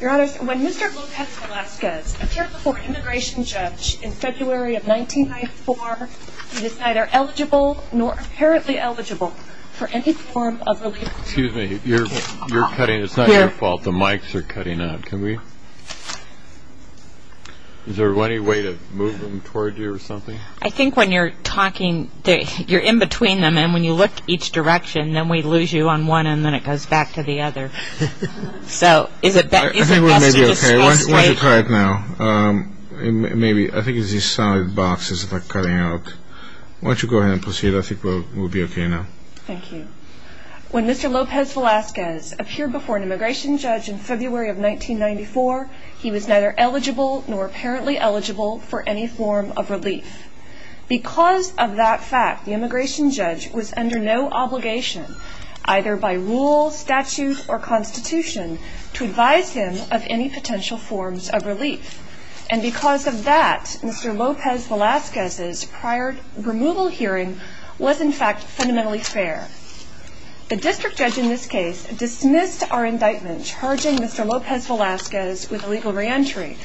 When Mr. Lopez-Velasquez appeared before an immigration judge in February of 1994, he was neither eligible nor apparently eligible for any form of relief. Excuse me, it's not your fault, the mics are cutting out. Is there any way to move them I think when you're talking, you're in between them and when you look each direction, then we lose you on one and then it goes back to the other. So, is it best to just pass the mic? I think we're maybe okay, why don't you try it now. Maybe, I think it's these solid boxes that are cutting out. Why don't you go ahead and proceed, I think we'll be okay now. Thank you. When Mr. Lopez-Velasquez appeared before an immigration judge in February of 1994, he was neither eligible nor apparently eligible for any form of relief. Because of that fact, the immigration judge was under no obligation, either by rule, statute, or constitution, to advise him of any potential forms of relief. And because of that, Mr. Lopez-Velasquez's prior removal hearing was in fact fundamentally fair. The district judge in this case dismissed our indictment charging Mr. Lopez-Velasquez with illegal re-entry.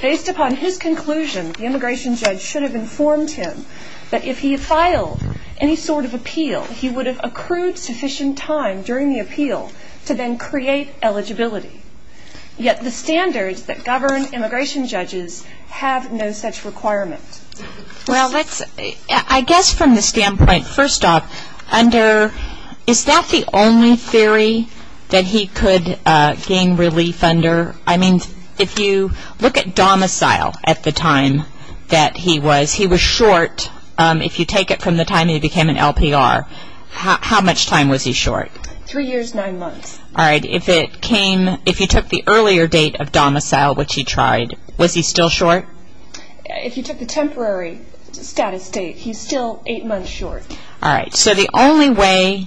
Based upon his conclusion, the immigration judge should have informed him that if he had filed any sort of appeal, he would have accrued sufficient time during the appeal to then create eligibility. Yet, the standards that govern immigration judges have no such requirement. Well, let's, I guess from the standpoint, first off, under, is that the only theory that he could gain relief under? I mean, if you look at domicile at the time that he was, he was short, if you take it from the time he became an LPR. How much time was he short? Three years, nine months. All right, if it came, if you took the earlier date of domicile, which he tried, was he still short? If you took the temporary status date, he's still eight months short. All right, so the only way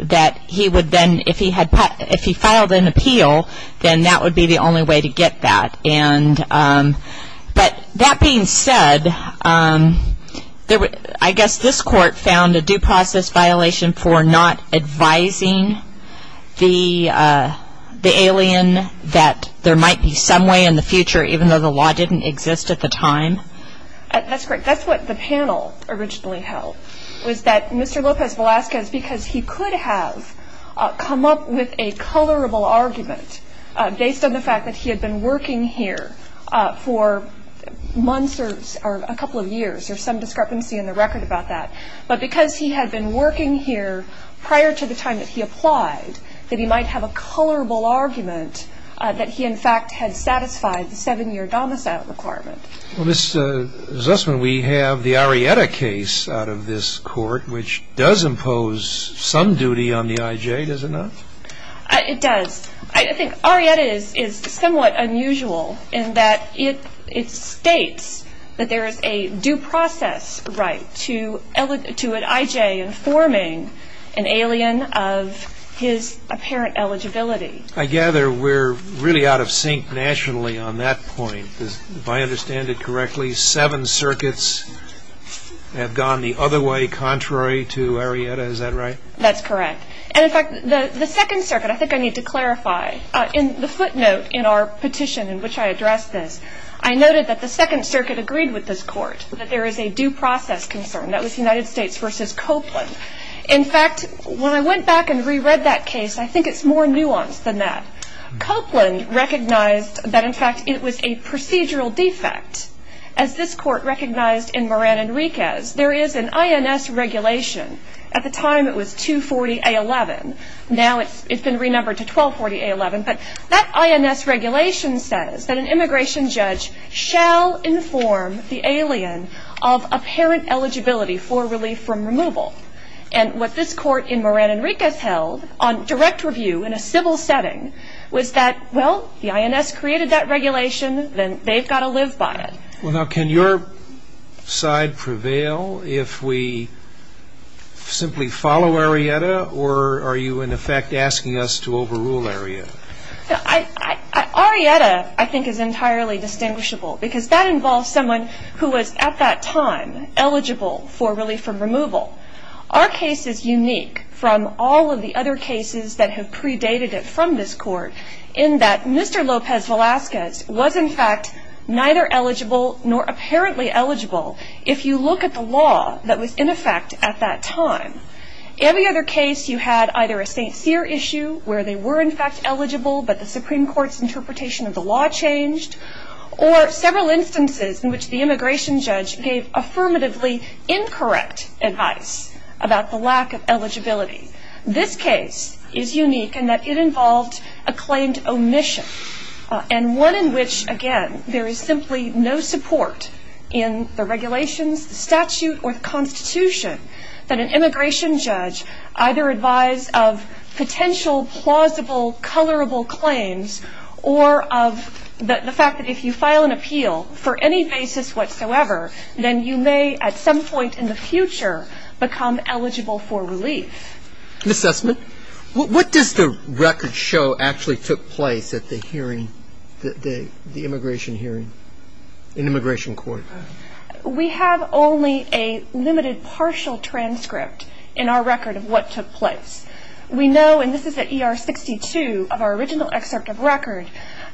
that he would then, if he had, if he filed an appeal, then that would be the only way to get that. And, but that being said, I guess this court found a due process violation for not advising the alien that there might be some way in the future, even though the law didn't exist at the time. That's great. That's what the panel originally held, was that Mr. Lopez Velasquez, because he could have come up with a colorable argument based on the fact that he had been working here for months or a couple of years, there's some discrepancy in the record about that. But because he had been working here prior to the time that he applied, that he might have a colorable argument that he, in fact, had satisfied the seven-year domicile requirement. Well, Ms. Zussman, we have the Arrieta case out of this court, which does impose some duty on the IJ, does it not? It does. I think Arrieta is somewhat unusual in that it states that there is a due process right to an IJ informing an alien of his apparent eligibility. I gather we're really out of sync nationally on that point. If I understand it correctly, seven circuits have gone the other way contrary to Arrieta. Is that right? That's correct. And, in fact, the Second Circuit, I think I need to clarify, in the footnote in our petition in which I addressed this, I noted that the Second Circuit agreed with this court that there is a due process concern. That was United States v. Copeland. In fact, when I went back and reread that case, I think it's more nuanced than that. Copeland recognized that, in fact, it was a procedural defect. As this court recognized in Moran Enriquez, there is an INS regulation. At the time, it was 240A11. Now it's been renumbered to 1240A11. But that INS regulation says that an immigration judge shall inform the alien of apparent eligibility for relief from removal. And what this court in Moran Enriquez held on direct review in a civil setting was that, well, the INS created that regulation. Then they've got to live by it. Well, now, can your side prevail if we simply follow Arrieta, or are you, in effect, asking us to overrule Arrieta? Arrieta, I think, is entirely distinguishable because that involves someone who was, at that time, eligible for relief from removal. Our case is unique from all of the other cases that have predated it from this court in that Mr. Lopez Velazquez was, in fact, neither eligible nor apparently eligible if you look at the law that was in effect at that time. Every other case, you had either a St. Cyr issue where they were, in fact, eligible, but the Supreme Court's interpretation of the law changed, or several instances in which the immigration judge gave affirmatively incorrect advice about the lack of eligibility. This case is unique in that it involved a claimed omission, and one in which, again, there is simply no support in the regulations, the statute, or the Constitution that an immigration judge either advise of potential, plausible, colorable claims, or of the fact that if you file an appeal for any basis whatsoever, then you may, at some point in the future, become eligible for relief. An assessment? What does the record show actually took place at the hearing, the immigration hearing in immigration court? We have only a limited partial transcript in our record of what took place. We know, and this is at ER 62 of our original excerpt of record,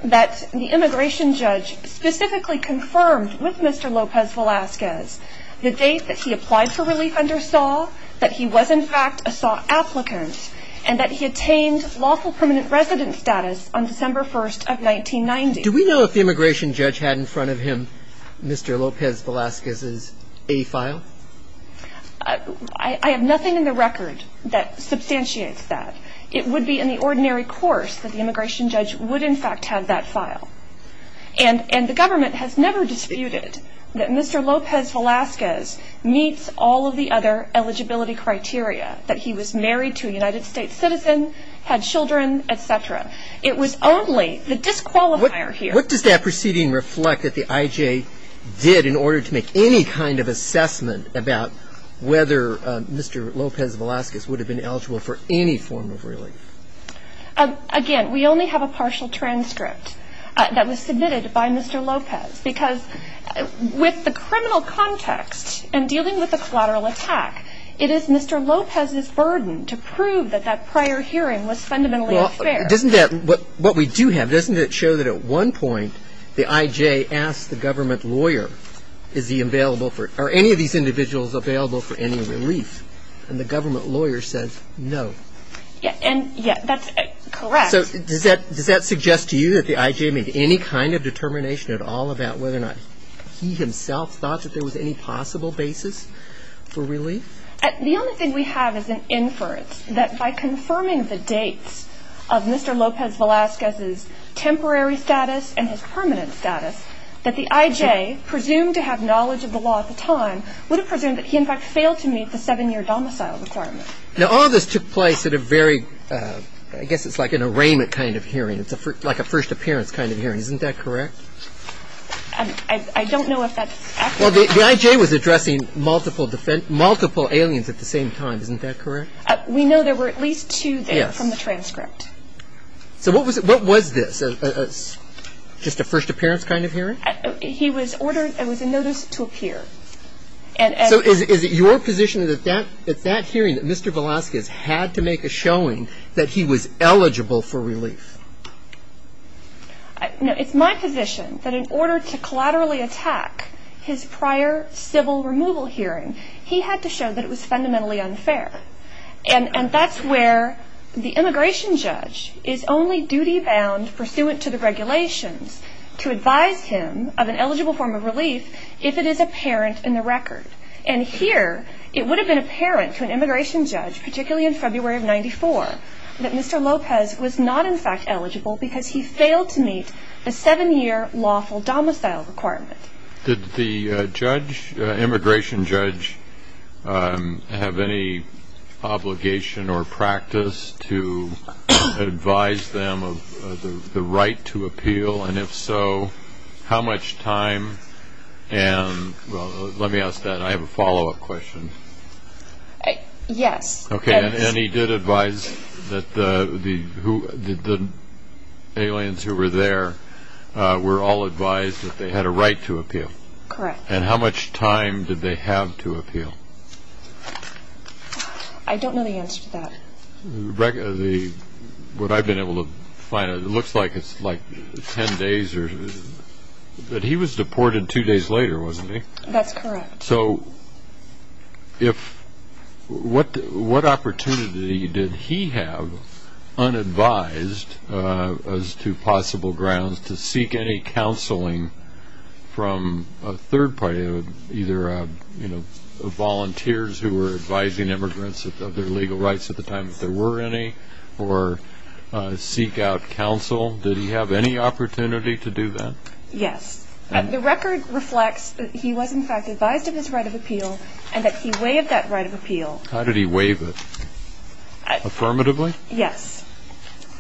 that the immigration judge specifically confirmed with Mr. Lopez Velazquez the date that he applied for relief under SAW, that he was, in fact, a SAW applicant, and that he attained lawful permanent resident status on December 1st of 1990. Do we know if the immigration judge had in front of him Mr. Lopez Velazquez's A file? I have nothing in the record that substantiates that. It would be in the ordinary course that the immigration judge would, in fact, have that file. And the government has never disputed that Mr. Lopez Velazquez meets all of the other eligibility criteria, that he was married to a United States citizen, had children, et cetera. It was only the disqualifier here. What does that proceeding reflect that the IJ did in order to make any kind of assessment about whether Mr. Lopez Velazquez would have been eligible for any form of relief? Again, we only have a partial transcript that was submitted by Mr. Lopez, because with the criminal context and dealing with a collateral attack, it is Mr. Lopez's burden to prove that that prior hearing was fundamentally unfair. Doesn't that, what we do have, doesn't it show that at one point the IJ asked the government lawyer, are any of these individuals available for any relief? And the government lawyer said no. Yes, that's correct. So does that suggest to you that the IJ made any kind of determination at all about whether or not he himself thought that there was any possible basis for relief? The only thing we have is an inference that by confirming the dates of Mr. Lopez Velazquez's temporary status and his permanent status, that the IJ, presumed to have knowledge of the law at the time, would have presumed that he in fact failed to meet the seven-year domicile requirement. Now, all this took place at a very, I guess it's like an arraignment kind of hearing. It's like a first appearance kind of hearing. Isn't that correct? I don't know if that's accurate. Well, the IJ was addressing multiple aliens at the same time. Isn't that correct? We know there were at least two there from the transcript. So what was this, just a first appearance kind of hearing? He was ordered, it was a notice to appear. So is it your position that at that hearing that Mr. Velazquez had to make a showing that he was eligible for relief? No, it's my position that in order to collaterally attack his prior civil removal hearing, he had to show that it was fundamentally unfair. And that's where the immigration judge is only duty-bound pursuant to the regulations to advise him of an eligible form of relief if it is apparent in the record. And here, it would have been apparent to an immigration judge, particularly in February of 1994, that Mr. Lopez was not, in fact, eligible because he failed to meet the seven-year lawful domicile requirement. Did the immigration judge have any obligation or practice to advise them of the right to appeal? And if so, how much time? Well, let me ask that. I have a follow-up question. Yes. Okay, and he did advise that the aliens who were there were all advised that they had a right to appeal. Correct. And how much time did they have to appeal? I don't know the answer to that. What I've been able to find, it looks like it's like 10 days. But he was deported two days later, wasn't he? That's correct. So what opportunity did he have, unadvised as to possible grounds, to seek any counseling from a third party, either volunteers who were advising immigrants of their legal rights at the time if there were any, or seek out counsel? Did he have any opportunity to do that? Yes. The record reflects that he was, in fact, advised of his right of appeal and that he waived that right of appeal. How did he waive it? Affirmatively? Yes.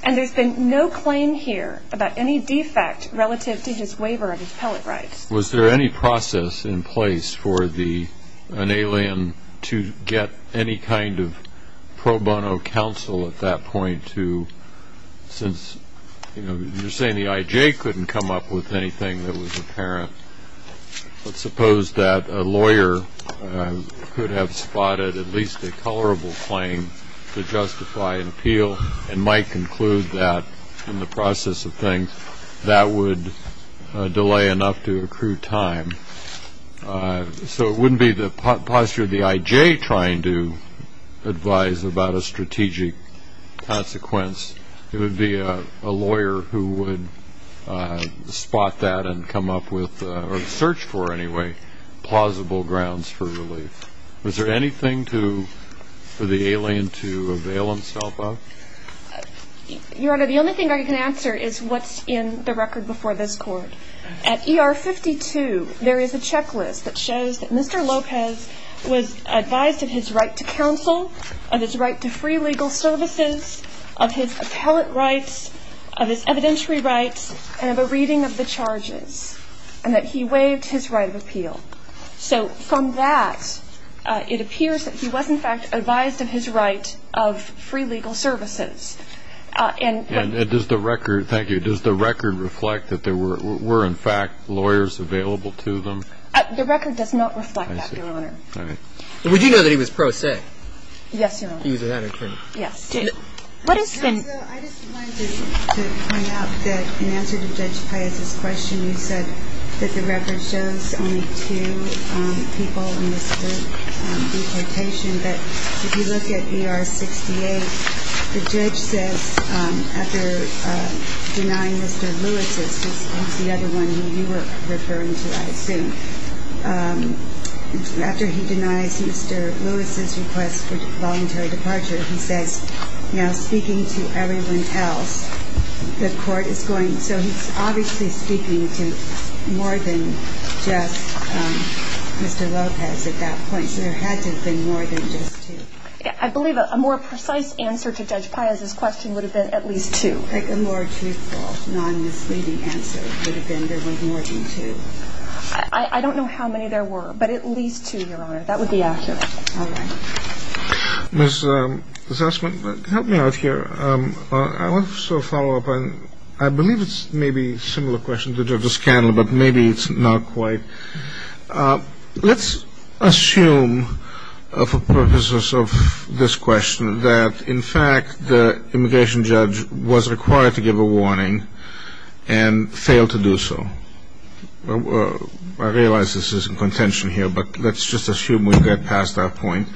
And there's been no claim here about any defect relative to his waiver of his pellet rights. Was there any process in place for an alien to get any kind of pro bono counsel at that point to, since you're saying the I.J. couldn't come up with anything that was apparent, let's suppose that a lawyer could have spotted at least a colorable claim to justify an appeal and might conclude that in the process of things that would delay enough to accrue time. So it wouldn't be the posture of the I.J. trying to advise about a strategic consequence. It would be a lawyer who would spot that and come up with, or search for anyway, plausible grounds for relief. Was there anything for the alien to avail himself of? Your Honor, the only thing I can answer is what's in the record before this Court. At ER 52, there is a checklist that shows that Mr. Lopez was advised of his right to counsel, of his right to free legal services, of his pellet rights, of his evidentiary rights, and of a reading of the charges, and that he waived his right of appeal. So from that, it appears that he was, in fact, advised of his right of free legal services. And does the record, thank you, does the record reflect that there were, in fact, lawyers available to them? The record does not reflect that, Your Honor. I see. All right. And would you know that he was pro se? Yes, Your Honor. He was an attorney. Yes. What is the? I just wanted to point out that in answer to Judge Paez's question, you said that the record shows only two people in this deportation. But if you look at ER 68, the judge says, after denying Mr. Lewis's, because he's the other one who you were referring to, I assume, after he denies Mr. Lewis's request for voluntary departure, he says, now speaking to everyone else, the Court is going, so he's obviously speaking to more than just Mr. Lopez at that point. Yes, there had to have been more than just two. I believe a more precise answer to Judge Paez's question would have been at least two. A more truthful, non-misleading answer would have been there were more than two. I don't know how many there were, but at least two, Your Honor. That would be accurate. All right. Ms. Essman, help me out here. I want to follow up on, I believe it's maybe a similar question to Judge Scanlon, but maybe it's not quite. Let's assume for purposes of this question that, in fact, the immigration judge was required to give a warning and failed to do so. I realize this is in contention here, but let's just assume we get past that point.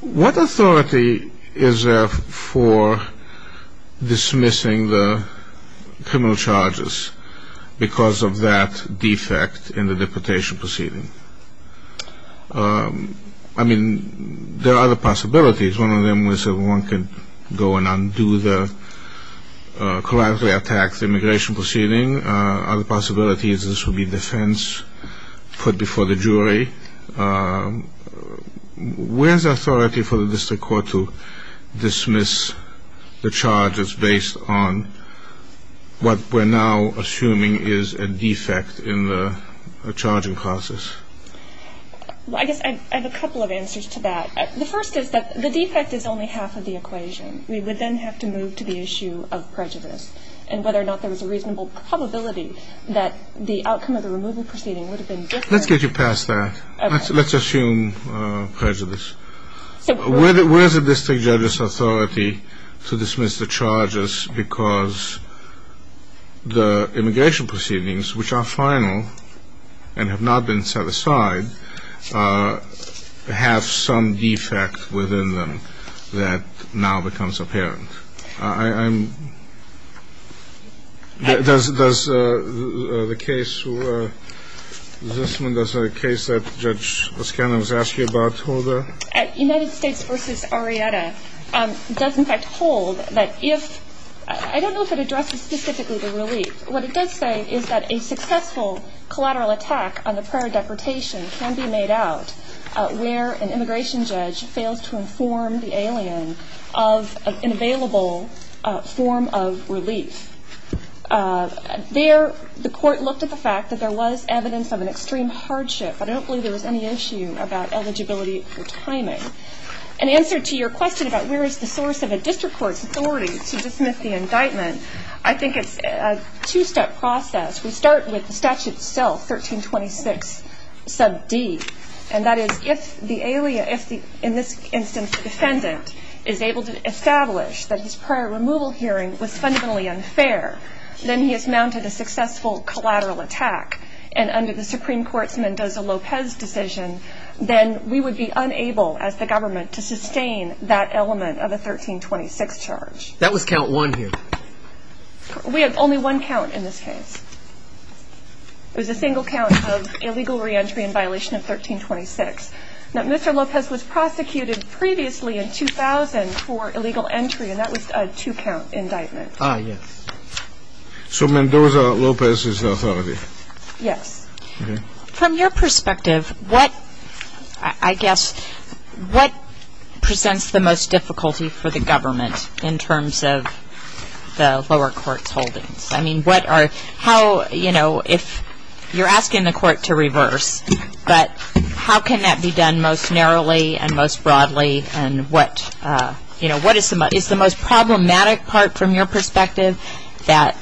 What authority is there for dismissing the criminal charges because of that defect in the deportation proceeding? I mean, there are other possibilities. One of them was that one could go and undo the, correctly, attack the immigration proceeding. Other possibilities, this would be defense put before the jury. Where is the authority for the district court to dismiss the charges based on what we're now assuming is a defect in the charging process? Well, I guess I have a couple of answers to that. The first is that the defect is only half of the equation. We would then have to move to the issue of prejudice, and whether or not there was a reasonable probability that the outcome of the removal proceeding would have been different. Let's get you past that. Okay. Let's assume prejudice. Where is the district judge's authority to dismiss the charges because the immigration proceedings, which are final and have not been set aside, have some defect within them that now becomes apparent? Does the case, this one, does the case that Judge O'Scannon was asking about hold? United States v. Arrieta does, in fact, hold that if, I don't know if it addresses specifically the relief. What it does say is that a successful collateral attack on the prior deportation can be made out where an immigration judge fails to inform the alien of an available form of relief. There, the court looked at the fact that there was evidence of an extreme hardship. I don't believe there was any issue about eligibility or timing. In answer to your question about where is the source of a district court's authority to dismiss the indictment, I think it's a two-step process. We start with the statute itself, 1326, sub D. And that is if the alien, in this instance the defendant, is able to establish that his prior removal hearing was fundamentally unfair, then he has mounted a successful collateral attack. And under the Supreme Court's Mendoza-Lopez decision, then we would be unable as the government to sustain that element of the 1326 charge. That was count one here. We have only one count in this case. It was a single count of illegal reentry in violation of 1326. Now, Mr. Lopez was prosecuted previously in 2000 for illegal entry, and that was a two-count indictment. Ah, yes. So Mendoza-Lopez is the authority. Yes. From your perspective, what, I guess, what presents the most difficulty for the government in terms of the lower court's holdings? I mean, what are, how, you know, if you're asking the court to reverse, but how can that be done most narrowly and most broadly, and what is the most problematic part from your perspective that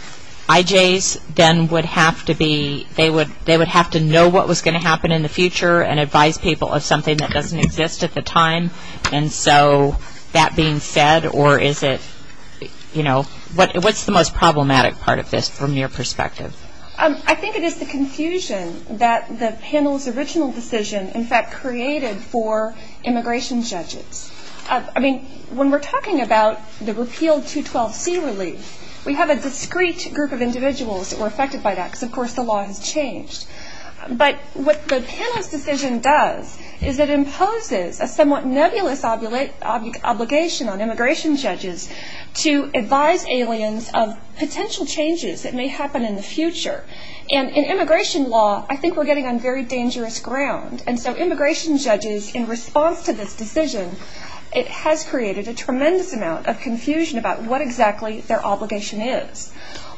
IJs then would have to be, they would have to know what was going to happen in the future and advise people of something that doesn't exist at the time? And so that being said, or is it, you know, what's the most problematic part of this from your perspective? I think it is the confusion that the panel's original decision, in fact, created for immigration judges. I mean, when we're talking about the repealed 212C relief, we have a discrete group of individuals that were affected by that because, of course, the law has changed. But what the panel's decision does is it imposes a somewhat nebulous obligation on immigration judges to advise aliens of potential changes that may happen in the future. And in immigration law, I think we're getting on very dangerous ground. And so immigration judges, in response to this decision, it has created a tremendous amount of confusion about what exactly their obligation is.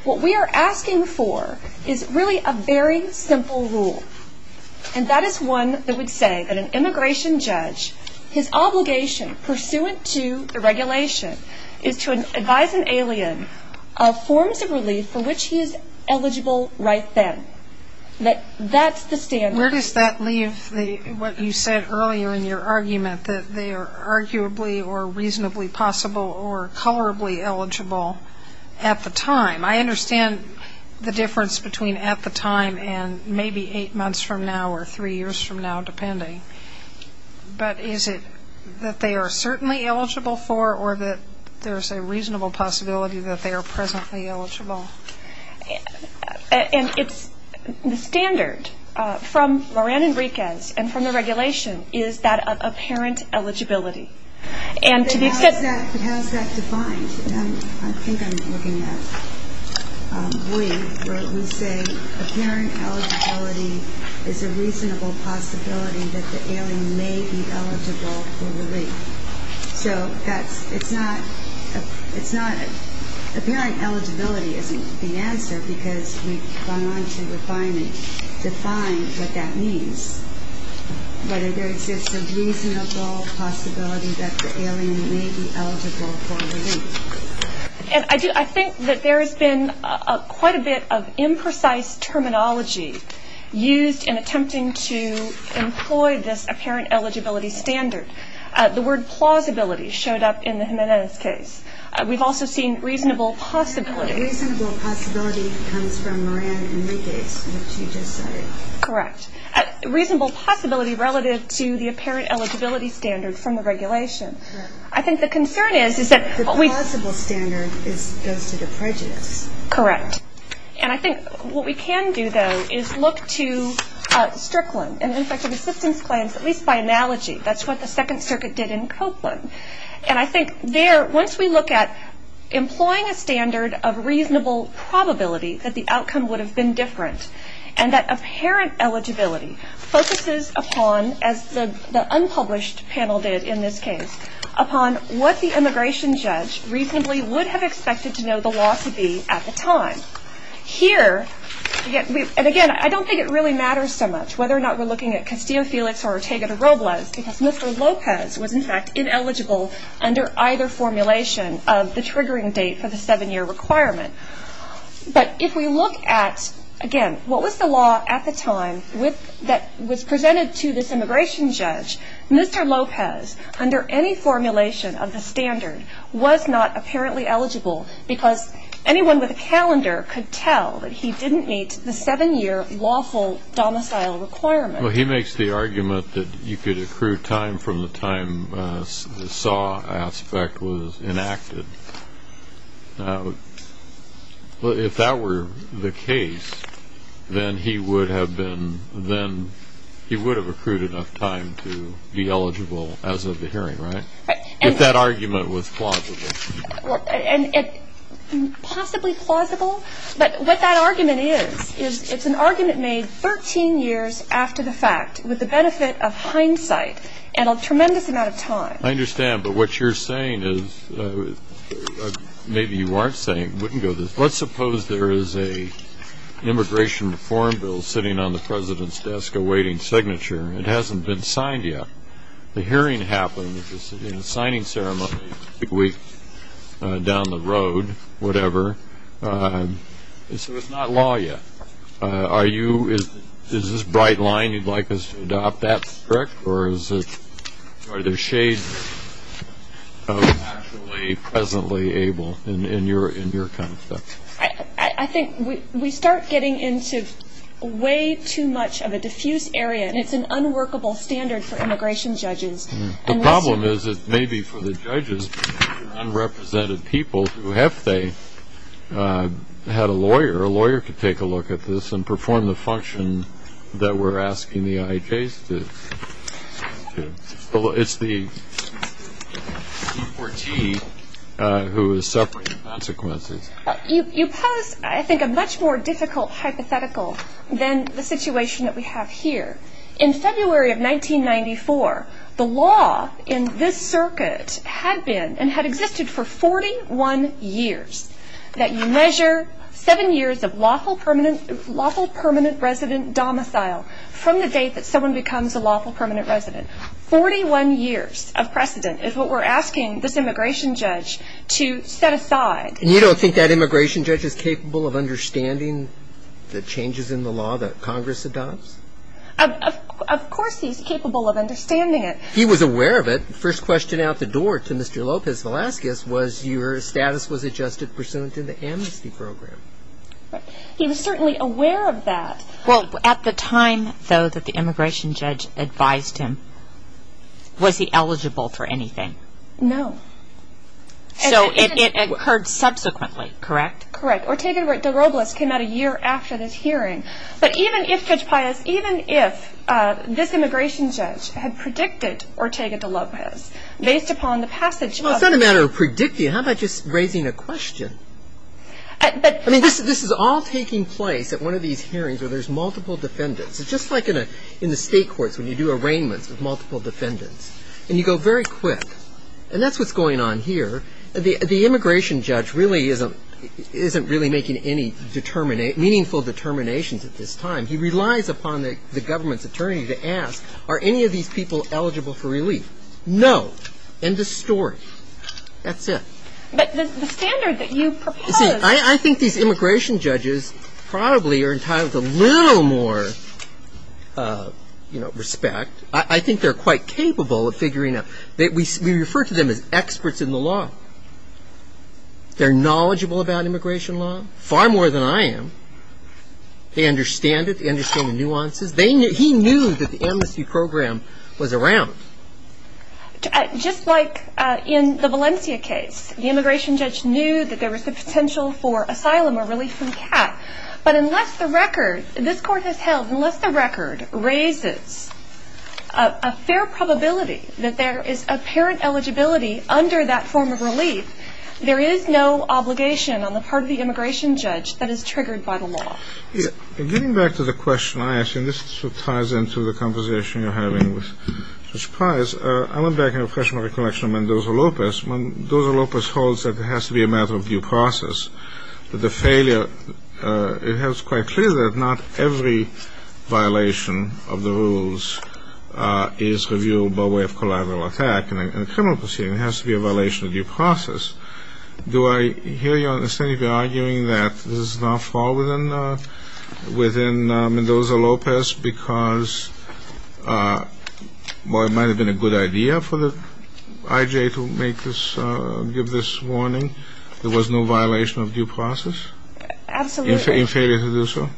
What we are asking for is really a very simple rule, and that is one that would say that an immigration judge, his obligation pursuant to the regulation is to advise an alien of forms of relief for which he is eligible right then, that that's the standard. Where does that leave what you said earlier in your argument, that they are arguably or reasonably possible or colorably eligible at the time? I understand the difference between at the time and maybe eight months from now or three years from now, depending. But is it that they are certainly eligible for or that there's a reasonable possibility that they are presently eligible? And the standard from Lorraine Enriquez and from the regulation is that of apparent eligibility. But how is that defined? I think I'm looking at we, where we say apparent eligibility is a reasonable possibility that the alien may be eligible for relief. So that's, it's not, it's not, apparent eligibility isn't the answer because we've gone on to refine and define what that means, whether there exists a reasonable possibility that the alien may be eligible for relief. And I do, I think that there has been quite a bit of imprecise terminology used in attempting to employ this apparent eligibility standard. The word plausibility showed up in the Jimenez case. We've also seen reasonable possibility. Reasonable possibility comes from Lorraine Enriquez, which you just said. Correct. Reasonable possibility relative to the apparent eligibility standard from the regulation. Correct. I think the concern is, is that what we The plausible standard goes to the prejudice. Correct. And I think what we can do though is look to Strickland and Infective Assistance Claims, at least by analogy. That's what the Second Circuit did in Copeland. And I think there, once we look at employing a standard of reasonable probability that the outcome would have been different, and that apparent eligibility focuses upon, as the unpublished panel did in this case, upon what the immigration judge reasonably would have expected to know the law to be at the time. Here, and again, I don't think it really matters so much whether or not we're looking at Castillo Felix or Ortega de Robles, because Mr. Lopez was in fact ineligible under either formulation of the triggering date for the seven-year requirement. But if we look at, again, what was the law at the time that was presented to this immigration judge, Mr. Lopez, under any formulation of the standard, was not apparently eligible because anyone with a calendar could tell that he didn't meet the seven-year lawful domicile requirement. Well, he makes the argument that you could accrue time from the time the SAW aspect was enacted. If that were the case, then he would have accrued enough time to be eligible as of the hearing, right? If that argument was plausible. Possibly plausible, but what that argument is, is it's an argument made 13 years after the fact with the benefit of hindsight and a tremendous amount of time. I understand, but what you're saying is, maybe you aren't saying, wouldn't go this way. Let's suppose there is an immigration reform bill sitting on the President's desk awaiting signature. It hasn't been signed yet. The hearing happens in a signing ceremony a week down the road, whatever. So it's not law yet. Is this bright line you'd like us to adopt that strict, or are there shades of actually presently able in your kind of stuff? I think we start getting into way too much of a diffuse area, and it's an unworkable standard for immigration judges. The problem is, it may be for the judges, unrepresented people who, if they had a lawyer, a lawyer could take a look at this and perform the function that we're asking the IJs to. It's the D4T who is separating the consequences. You pose, I think, a much more difficult hypothetical than the situation that we have here. In February of 1994, the law in this circuit had been, and had existed for 41 years, that you measure seven years of lawful permanent resident domicile from the date that someone becomes a lawful permanent resident. 41 years of precedent is what we're asking this immigration judge to set aside. You don't think that immigration judge is capable of understanding the changes in the law that Congress adopts? Of course he's capable of understanding it. He was aware of it. The first question out the door to Mr. Lopez Velazquez was, your status was adjusted pursuant to the amnesty program. He was certainly aware of that. Well, at the time, though, that the immigration judge advised him, was he eligible for anything? No. So it occurred subsequently, correct? Correct. Ortega de Robles came out a year after this hearing. But even if, Judge Pius, even if this immigration judge had predicted Ortega de Lopez, based upon the passage of the- Well, it's not a matter of predicting. How about just raising a question? I mean, this is all taking place at one of these hearings where there's multiple defendants. It's just like in the state courts when you do arraignments with multiple defendants, and you go very quick, and that's what's going on here. The immigration judge really isn't making any meaningful determinations at this time. He relies upon the government's attorney to ask, are any of these people eligible for relief? No. End of story. That's it. But the standard that you propose- See, I think these immigration judges probably are entitled to a little more respect. I think they're quite capable of figuring out- We refer to them as experts in the law. They're knowledgeable about immigration law, far more than I am. They understand it. They understand the nuances. He knew that the amnesty program was around. Just like in the Valencia case, But unless the record, this court has held, unless the record raises a fair probability that there is apparent eligibility under that form of relief, there is no obligation on the part of the immigration judge that is triggered by the law. Getting back to the question I asked, and this sort of ties into the conversation you're having with Judge Price, I went back and refreshed my recollection of Mendoza-Lopez. Mendoza-Lopez holds that it has to be a matter of due process, that the failure- It is quite clear that not every violation of the rules is reviewed by way of collateral attack. In a criminal proceeding, it has to be a violation of due process. Do I hear your understanding that you're arguing that this is an off-ball within Mendoza-Lopez because it might have been a good idea for the IJA to give this warning? There was no violation of due process? Absolutely. In failure to do so?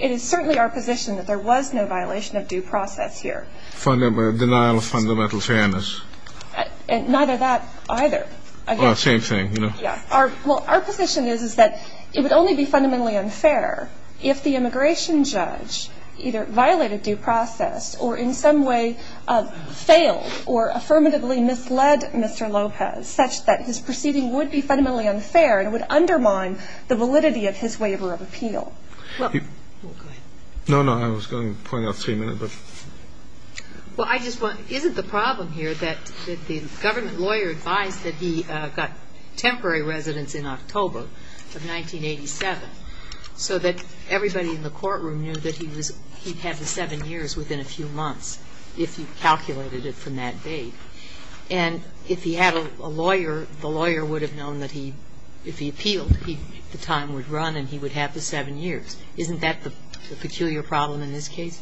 It is certainly our position that there was no violation of due process here. Denial of fundamental fairness? Neither that, either. Well, same thing. Our position is that it would only be fundamentally unfair if the immigration judge either violated due process or in some way failed or affirmatively misled Mr. Lopez such that his proceeding would be fundamentally unfair and would undermine the validity of his waiver of appeal. Well, go ahead. No, no. I was going to point out three minutes, but- Well, I just want to, isn't the problem here that the government lawyer advised that he got temporary residence in October of 1987 so that everybody in the courtroom knew that he was, he'd have the seven years within a few months if he calculated it from that date? And if he had a lawyer, the lawyer would have known that he, if he appealed, the time would run and he would have the seven years. Isn't that the peculiar problem in this case?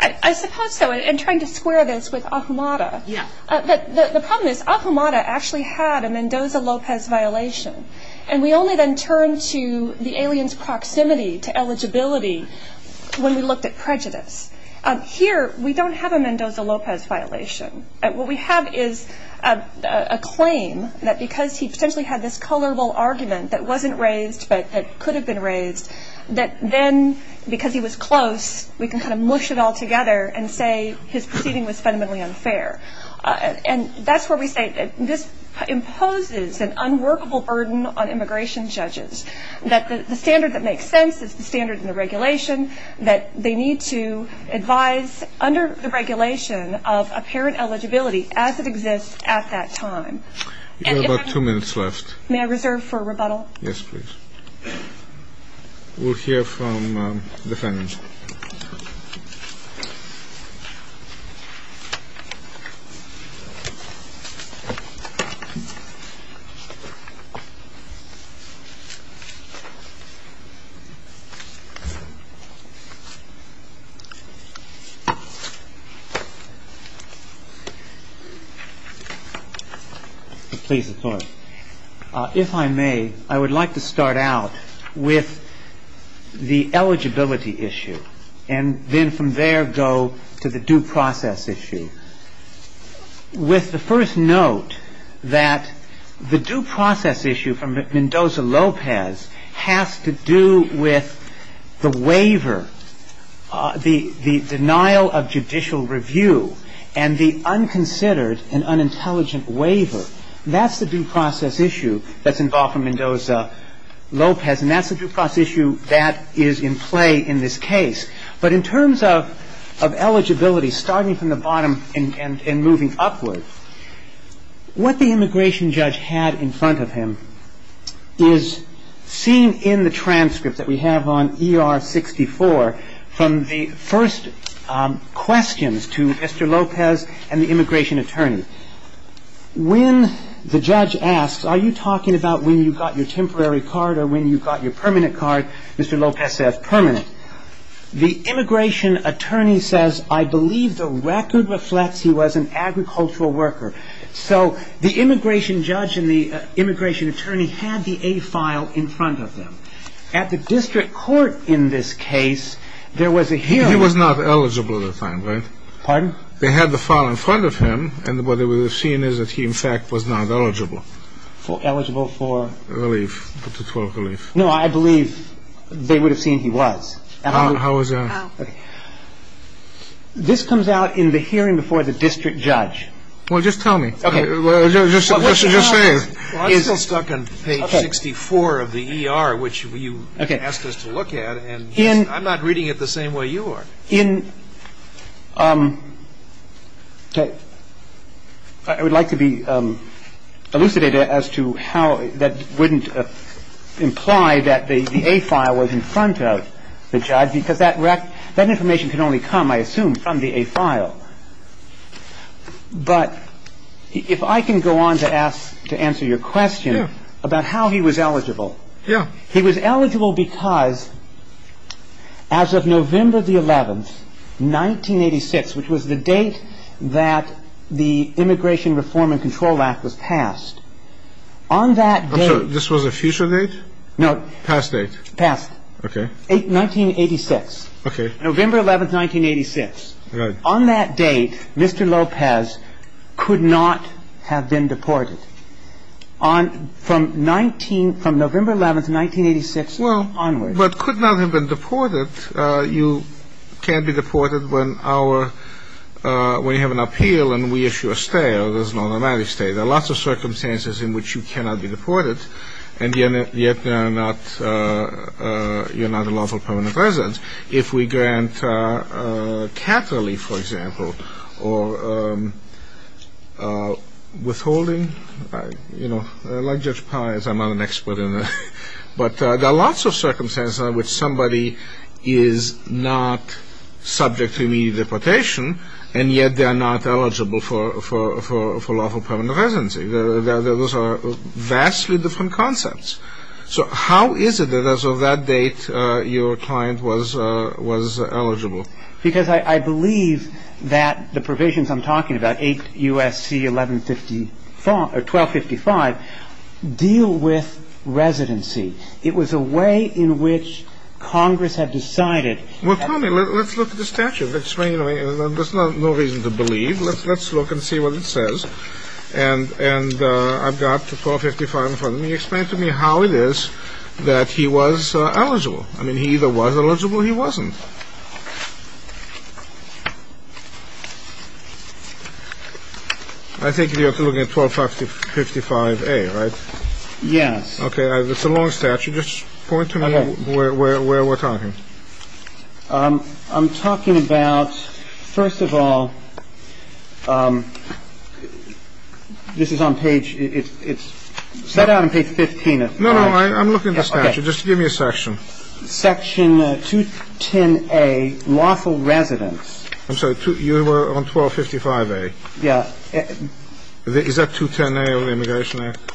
I suppose so, and trying to square this with Ahumada. Yeah. The problem is Ahumada actually had a Mendoza-Lopez violation, and we only then turned to the alien's proximity to eligibility when we looked at prejudice. Here, we don't have a Mendoza-Lopez violation. What we have is a claim that because he potentially had this colorable argument that wasn't raised but that could have been raised, that then because he was close, we can kind of mush it all together and say his proceeding was fundamentally unfair. And that's where we say this imposes an unworkable burden on immigration judges, that the standard that makes sense is the standard in the regulation, that they need to advise under the regulation of apparent eligibility as it exists at that time. You have about two minutes left. May I reserve for rebuttal? Yes, please. We'll hear from the defendants. Please, the floor. If I may, I would like to start out with the eligibility issue, and then from there go to the due process issue. With the first note that the due process issue from Mendoza-Lopez has to do with the waiver, the denial of judicial review, and the unconsidered and unintelligent waiver, that's the due process issue that's involved for Mendoza-Lopez, and that's the due process issue that is in play in this case. But in terms of eligibility, starting from the bottom and moving upward, what the immigration judge had in front of him is seen in the transcript that we have on ER-64 from the first questions to Mr. Lopez and the immigration attorney. When the judge asks, are you talking about when you got your temporary card or when you got your permanent card, Mr. Lopez says, permanent. The immigration attorney says, I believe the record reflects he was an agricultural worker. So the immigration judge and the immigration attorney had the A file in front of them. At the district court in this case, there was a hearing. He was not eligible at the time, right? Pardon? They had the file in front of him, and what they would have seen is that he, in fact, was not eligible. Eligible for? Relief. No, I believe they would have seen he was. How is that? Okay. This comes out in the hearing before the district judge. Well, just tell me. Okay. What's he just saying? Well, I'm still stuck on page 64 of the ER, which you asked us to look at, and I'm not reading it the same way you are. Okay. I would like to be elucidated as to how that wouldn't imply that the A file was in front of the judge, because that information can only come, I assume, from the A file. But if I can go on to answer your question about how he was eligible. Yeah. He was eligible because as of November the 11th, 1986, which was the date that the Immigration Reform and Control Act was passed, on that date. I'm sorry. This was a future date? No. Past date. Past. Okay. 1986. Okay. November 11th, 1986. Right. On that date, Mr. Lopez could not have been deported. From November 11th, 1986 onward. Well, but could not have been deported. You can't be deported when our – when you have an appeal and we issue a stay, or there's an automatic stay. There are lots of circumstances in which you cannot be deported, and yet you're not a lawful permanent resident. If we grant cat relief, for example, or withholding, you know, like Judge Pye, as I'm not an expert in this, but there are lots of circumstances in which somebody is not subject to immediate deportation, and yet they're not eligible for lawful permanent residency. Those are vastly different concepts. So how is it that as of that date your client was eligible? Because I believe that the provisions I'm talking about, 8 U.S.C. 1255, deal with residency. It was a way in which Congress had decided – Well, tell me. Let's look at the statute. Explain to me. There's no reason to believe. Let's look and see what it says. And I've got 1255 in front of me. Explain to me how it is that he was eligible. I mean, he either was eligible or he wasn't. I think you have to look at 1255A, right? Yes. Okay. It's a long statute. Just point to me where we're talking. I'm talking about – first of all, this is on page – it's set out on page 15. No, no. I'm looking at the statute. Just give me a section. Section 210A, lawful residence. I'm sorry. You were on 1255A. Yeah. Is that 210A or the Immigration Act?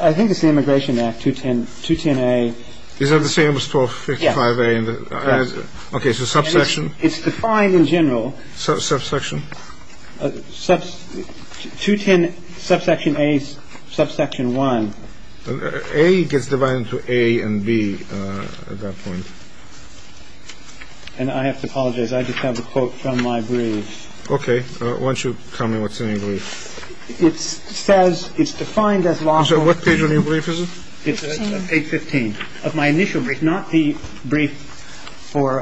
I think it's the Immigration Act, 210A. Is that the same as 1255A? Yes. Okay. So subsection? It's defined in general. Subsection? 210, subsection A, subsection 1. A gets divided into A and B at that point. And I have to apologize. I just have a quote from my brief. Okay. Why don't you tell me what's in your brief? It says – it's defined as lawful residence. So what page on your brief is it? Page 15. Of my initial brief. Not the brief for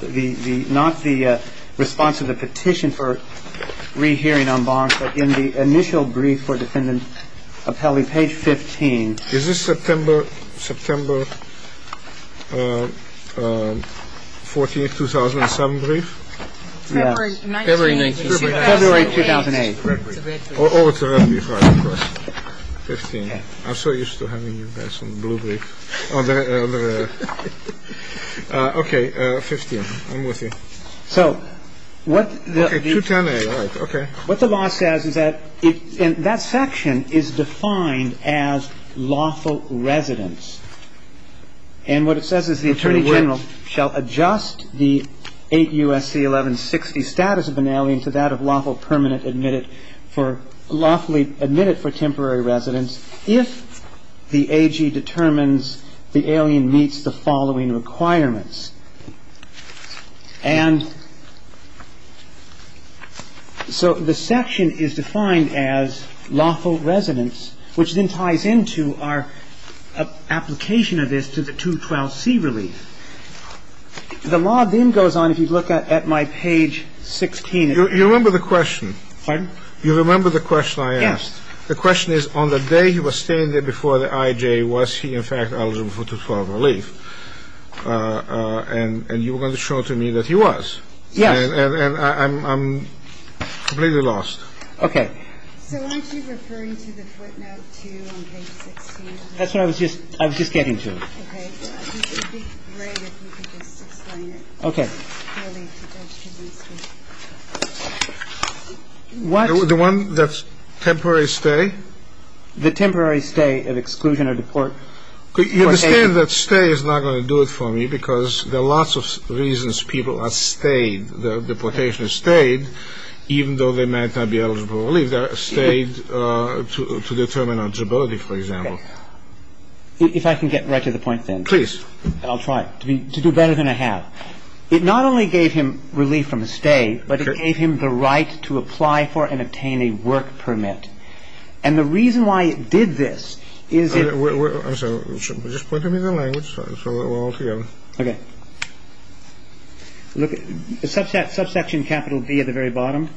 the – not the response to the petition for rehearing en banc, but in the initial brief for defendant appellee, page 15. Is this September 14, 2007 brief? Yeah. February 19, 2008. February 2008. It's a red brief. Oh, it's a red brief. Right, of course. 15. Okay. I'm so used to having you guys on the blue brief. Okay. 15. I'm with you. So what the – Okay, 210A. All right. Okay. What the law says is that – and that section is defined as lawful residence. And what it says is the attorney general shall adjust the 8 U.S.C. 1160 status of an alien to that of lawful permanent admitted for – lawfully admitted for temporary residence if the AG determines the alien meets the following requirements. And so the section is defined as lawful residence, which then ties into our application of this to the 212C relief. The law then goes on, if you look at my page 16. You remember the question. Pardon? You remember the question I asked. Yes. The question is, on the day he was standing before the IJ, was he in fact eligible for 212 relief? And you were going to show to me that he was. Yes. And I'm completely lost. Okay. So aren't you referring to the footnote 2 on page 16? That's what I was just getting to. Okay. It would be great if you could just explain it. Okay. Relief to judge him instantly. What? The one that's temporary stay? The temporary stay of exclusion or deportation. You understand that stay is not going to do it for me because there are lots of reasons people are stayed. Their deportation is stayed, even though they might not be eligible for relief. They're stayed to determine eligibility, for example. Okay. If I can get right to the point, then. Please. I'll try to do better than I have. It not only gave him relief from a stay, but it gave him the right to apply for and obtain a work permit. And the reason why it did this is it – I'm sorry. Just point to me the language so we're all together. Okay. Look, subsection capital D at the very bottom.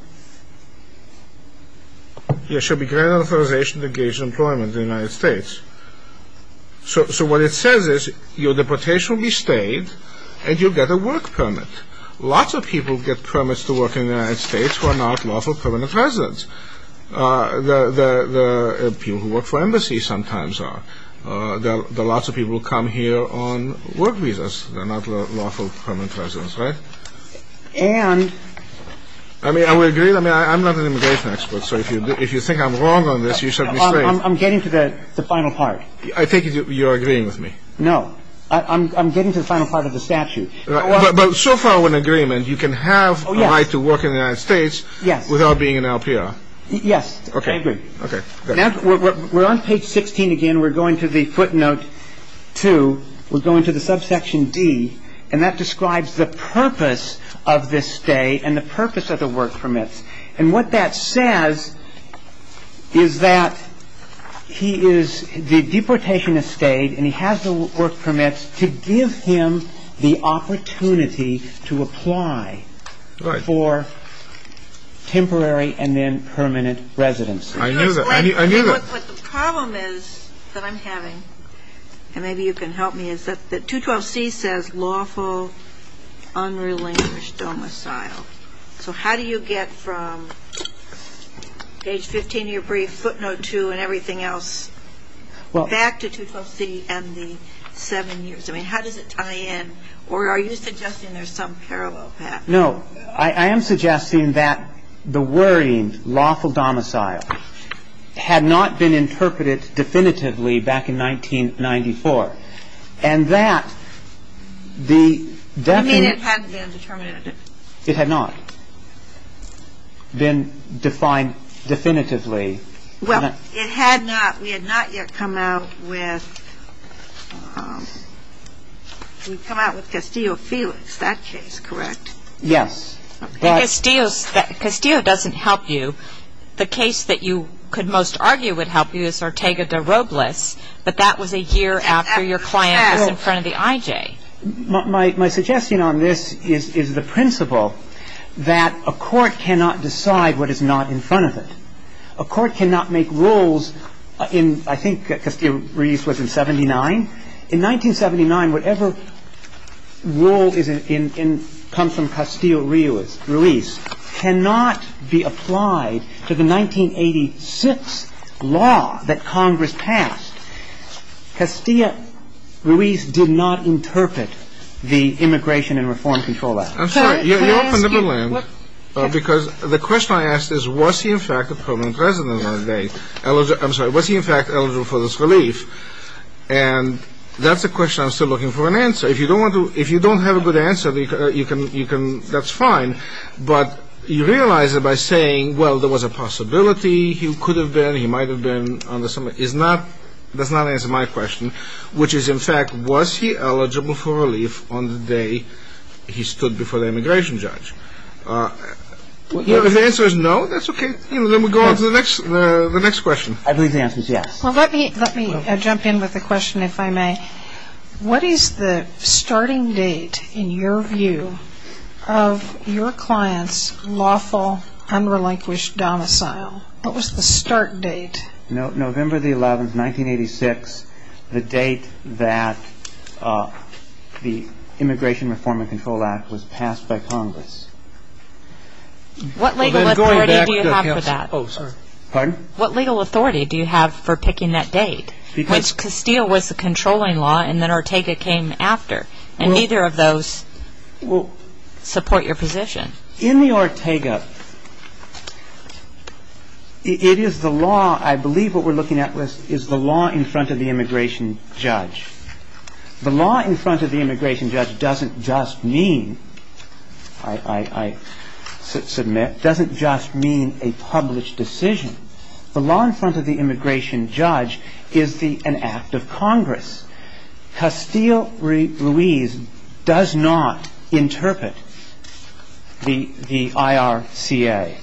It should be granted authorization to engage in employment in the United States. So what it says is your deportation will be stayed and you'll get a work permit. Lots of people get permits to work in the United States who are not lawful permanent residents. The people who work for embassies sometimes are. There are lots of people who come here on work visas. They're not lawful permanent residents, right? And – I mean, are we agreed? I mean, I'm not an immigration expert, so if you think I'm wrong on this, you should be straight. I'm getting to the final part. I think you're agreeing with me. No. I'm getting to the final part of the statute. But so far we're in agreement. You can have a right to work in the United States without being an LPR. Yes. Okay. I agree. Okay. We're on page 16 again. We're going to the footnote 2. We're going to the subsection D. And that describes the purpose of this stay and the purpose of the work permits. And what that says is that he is – the deportation has stayed and he has the work permits to give him the opportunity to apply for temporary and then permanent residency. I knew that. I knew that. What the problem is that I'm having, and maybe you can help me, is that 212C says lawful, unrelinquished domicile. So how do you get from page 15 of your brief, footnote 2, and everything else back to 212C and the seven years? I mean, how does it tie in? Or are you suggesting there's some parallel path? No. I am suggesting that the worrying lawful domicile had not been interpreted definitively back in 1994. And that the – You mean it hadn't been determined? It had not been defined definitively. Well, it had not. We had not yet come out with – we'd come out with Castillo Felix, that case, correct? Yes. Castillo doesn't help you. The case that you could most argue would help you is Ortega de Robles, but that was a year after your client was in front of the IJ. My suggestion on this is the principle that a court cannot decide what is not in front of it. A court cannot make rules in – I think Castillo Ruiz was in 79. In 1979, whatever rule is in – comes from Castillo Ruiz cannot be applied to the 1986 law that Congress passed. Castillo Ruiz did not interpret the Immigration and Reform Control Act. I'm sorry. Can I ask you what – Because the question I asked is, was he in fact a permanent resident one day? I'm sorry. Was he in fact eligible for this relief? And that's a question I'm still looking for an answer. If you don't want to – if you don't have a good answer, you can – that's fine. But you realize it by saying, well, there was a possibility he could have been, he might have been on the – is not – does not answer my question, which is, in fact, was he eligible for relief on the day he stood before the immigration judge? If the answer is no, that's okay. Let me go on to the next question. I believe the answer is yes. Well, let me – let me jump in with a question, if I may. What is the starting date, in your view, of your client's lawful, unrelinquished domicile? What was the start date? November the 11th, 1986, the date that the Immigration Reform and Control Act was passed by Congress. What legal authority do you have for that? Oh, sorry. Pardon? What legal authority do you have for picking that date, which Castile was the controlling law and then Ortega came after, and neither of those support your position? In the Ortega, it is the law – I believe what we're looking at is the law in front of the immigration judge. The law in front of the immigration judge doesn't just mean – I submit – doesn't just mean a published decision. The law in front of the immigration judge is the – an act of Congress. Castile Ruiz does not interpret the IRCA.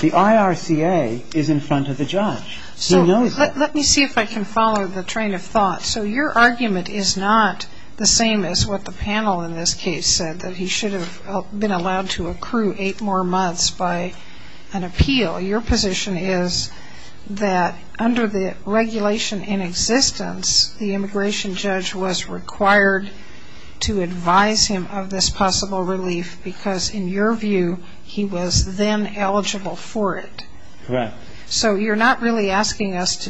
The IRCA is in front of the judge. He knows that. Let me see if I can follow the train of thought. So your argument is not the same as what the panel in this case said, that he should have been allowed to accrue eight more months by an appeal. Your position is that under the regulation in existence, the immigration judge was required to advise him of this possible relief because, in your view, he was then eligible for it. Correct. So you're not really asking us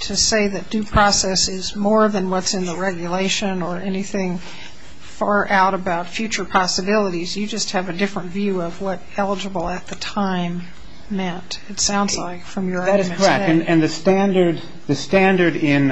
to say that due process is more than what's in the regulation or anything far out about future possibilities. You just have a different view of what eligible at the time meant, it sounds like, from your argument today. That is correct. And the standard in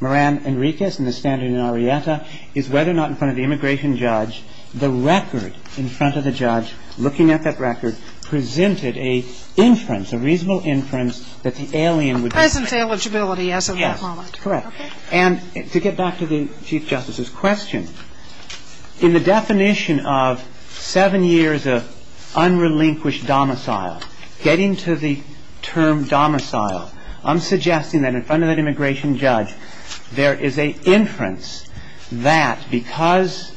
Moran Enriquez and the standard in Arietta is whether or not in front of the immigration judge, the record in front of the judge, looking at that record, presented a inference, a reasonable inference that the alien would be eligible. A present eligibility as of that moment. Yes. Correct. Okay. And to get back to the Chief Justice's question, in the definition of seven years of unrelinquished domicile, getting to the term domicile, I'm suggesting that in front of that immigration judge, there is a inference that because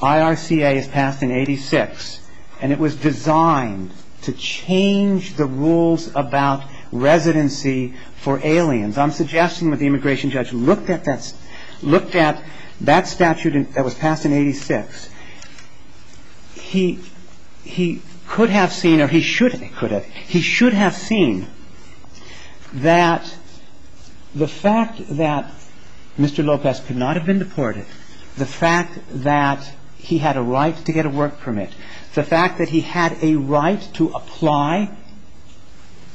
IRCA is passed in 86, and it was designed to change the rules about residency for aliens, I'm suggesting that the immigration judge looked at that statute that was passed in 86. He could have seen or he should have seen that the fact that Mr. Lopez could not have been deported, the fact that he had a right to get a work permit, the fact that he had a right to apply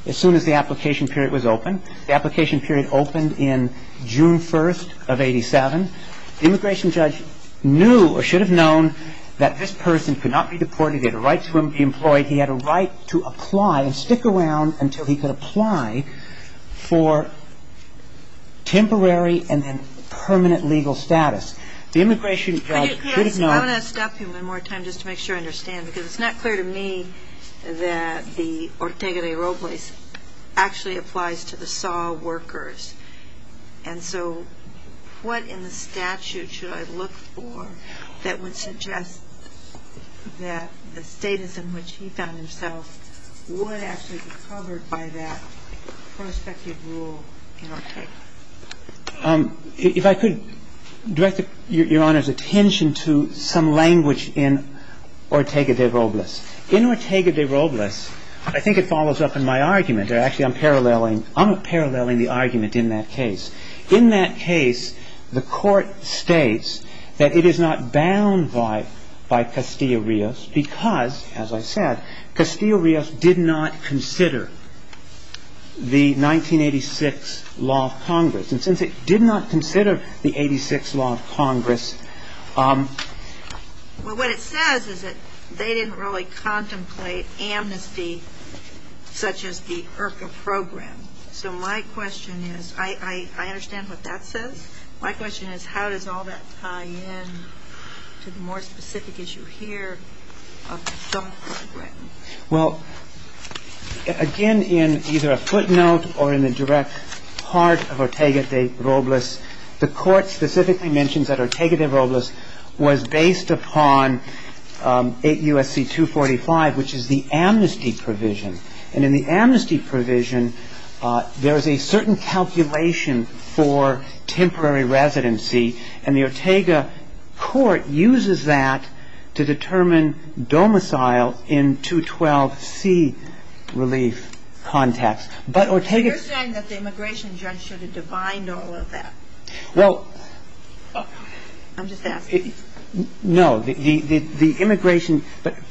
as soon as the application period was open, the application period opened in June 1st of 87, the immigration judge knew or should have known that this person could not be deported. They had a right to be employed. He had a right to apply and stick around until he could apply for temporary and then permanent legal status. The immigration judge should have known. I want to stop you one more time just to make sure I understand, because it's not clear to me that the Ortega de Robles actually applies to the SAW workers. And so what in the statute should I look for that would suggest that the status in which he found himself would actually be covered by that prospective rule in Ortega? If I could direct Your Honor's attention to some language in Ortega de Robles. In Ortega de Robles, I think it follows up in my argument, or actually I'm paralleling the argument in that case. In that case, the court states that it is not bound by Castillo-Rios because, as I said, Castillo-Rios did not consider the 1986 law of Congress. And since it did not consider the 86 law of Congress. Well, what it says is that they didn't really contemplate amnesty, such as the IRCA program. So my question is, I understand what that says. My question is, how does all that tie in to the more specific issue here of the DAW program? Well, again, in either a footnote or in the direct part of Ortega de Robles, the court specifically mentions that Ortega de Robles was based upon 8 U.S.C. 245, which is the amnesty provision. And in the amnesty provision, there is a certain calculation for temporary residency. And the Ortega court uses that to determine domicile in 212C relief context. But Ortega You're saying that the immigration judge should have defined all of that. Well I'm just asking. No. The immigration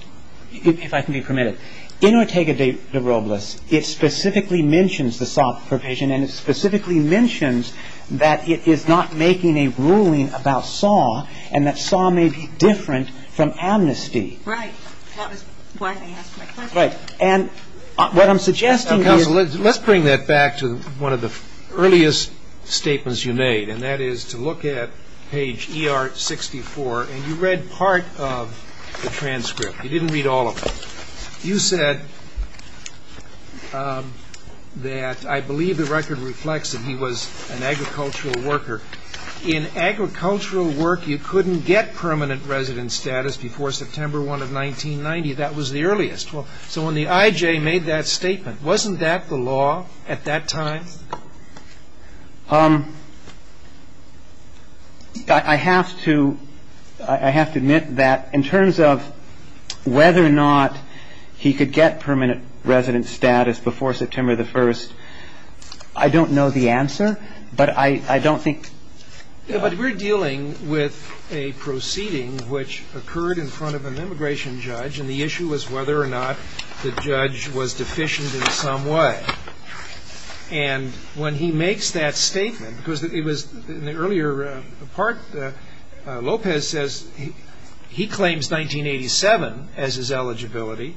– if I can be permitted. In Ortega de Robles, it specifically mentions the SAW provision and it specifically mentions that it is not making a ruling about SAW and that SAW may be different from amnesty. Right. That was why I asked my question. Right. And what I'm suggesting is Counsel, let's bring that back to one of the earliest statements you made, and that is to look at page ER-64, and you read part of the transcript. You didn't read all of it. You said that I believe the record reflects that he was an agricultural worker. In agricultural work, you couldn't get permanent resident status before September 1 of 1990. That was the earliest. So when the IJ made that statement, wasn't that the law at that time? I have to admit that in terms of whether or not he could get permanent resident status before September 1, I don't know the answer, but I don't think But we're dealing with a proceeding which occurred in front of an immigration judge, and the issue was whether or not the judge was deficient in some way. And when he makes that statement, because it was in the earlier part, Lopez says he claims 1987 as his eligibility,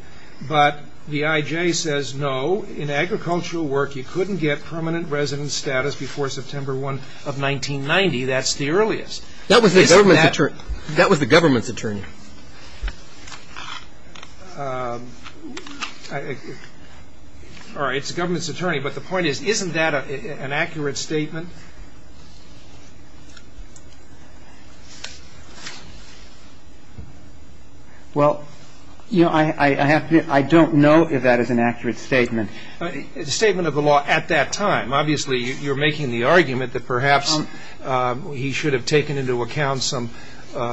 but the IJ says no, in agricultural work, you couldn't get permanent resident status before September 1 of 1990. That's the earliest. That was the government's attorney. All right. It's the government's attorney, but the point is, isn't that an accurate statement? Well, I don't know if that is an accurate statement. It's a statement of the law at that time. Obviously, you're making the argument that perhaps he should have taken into account some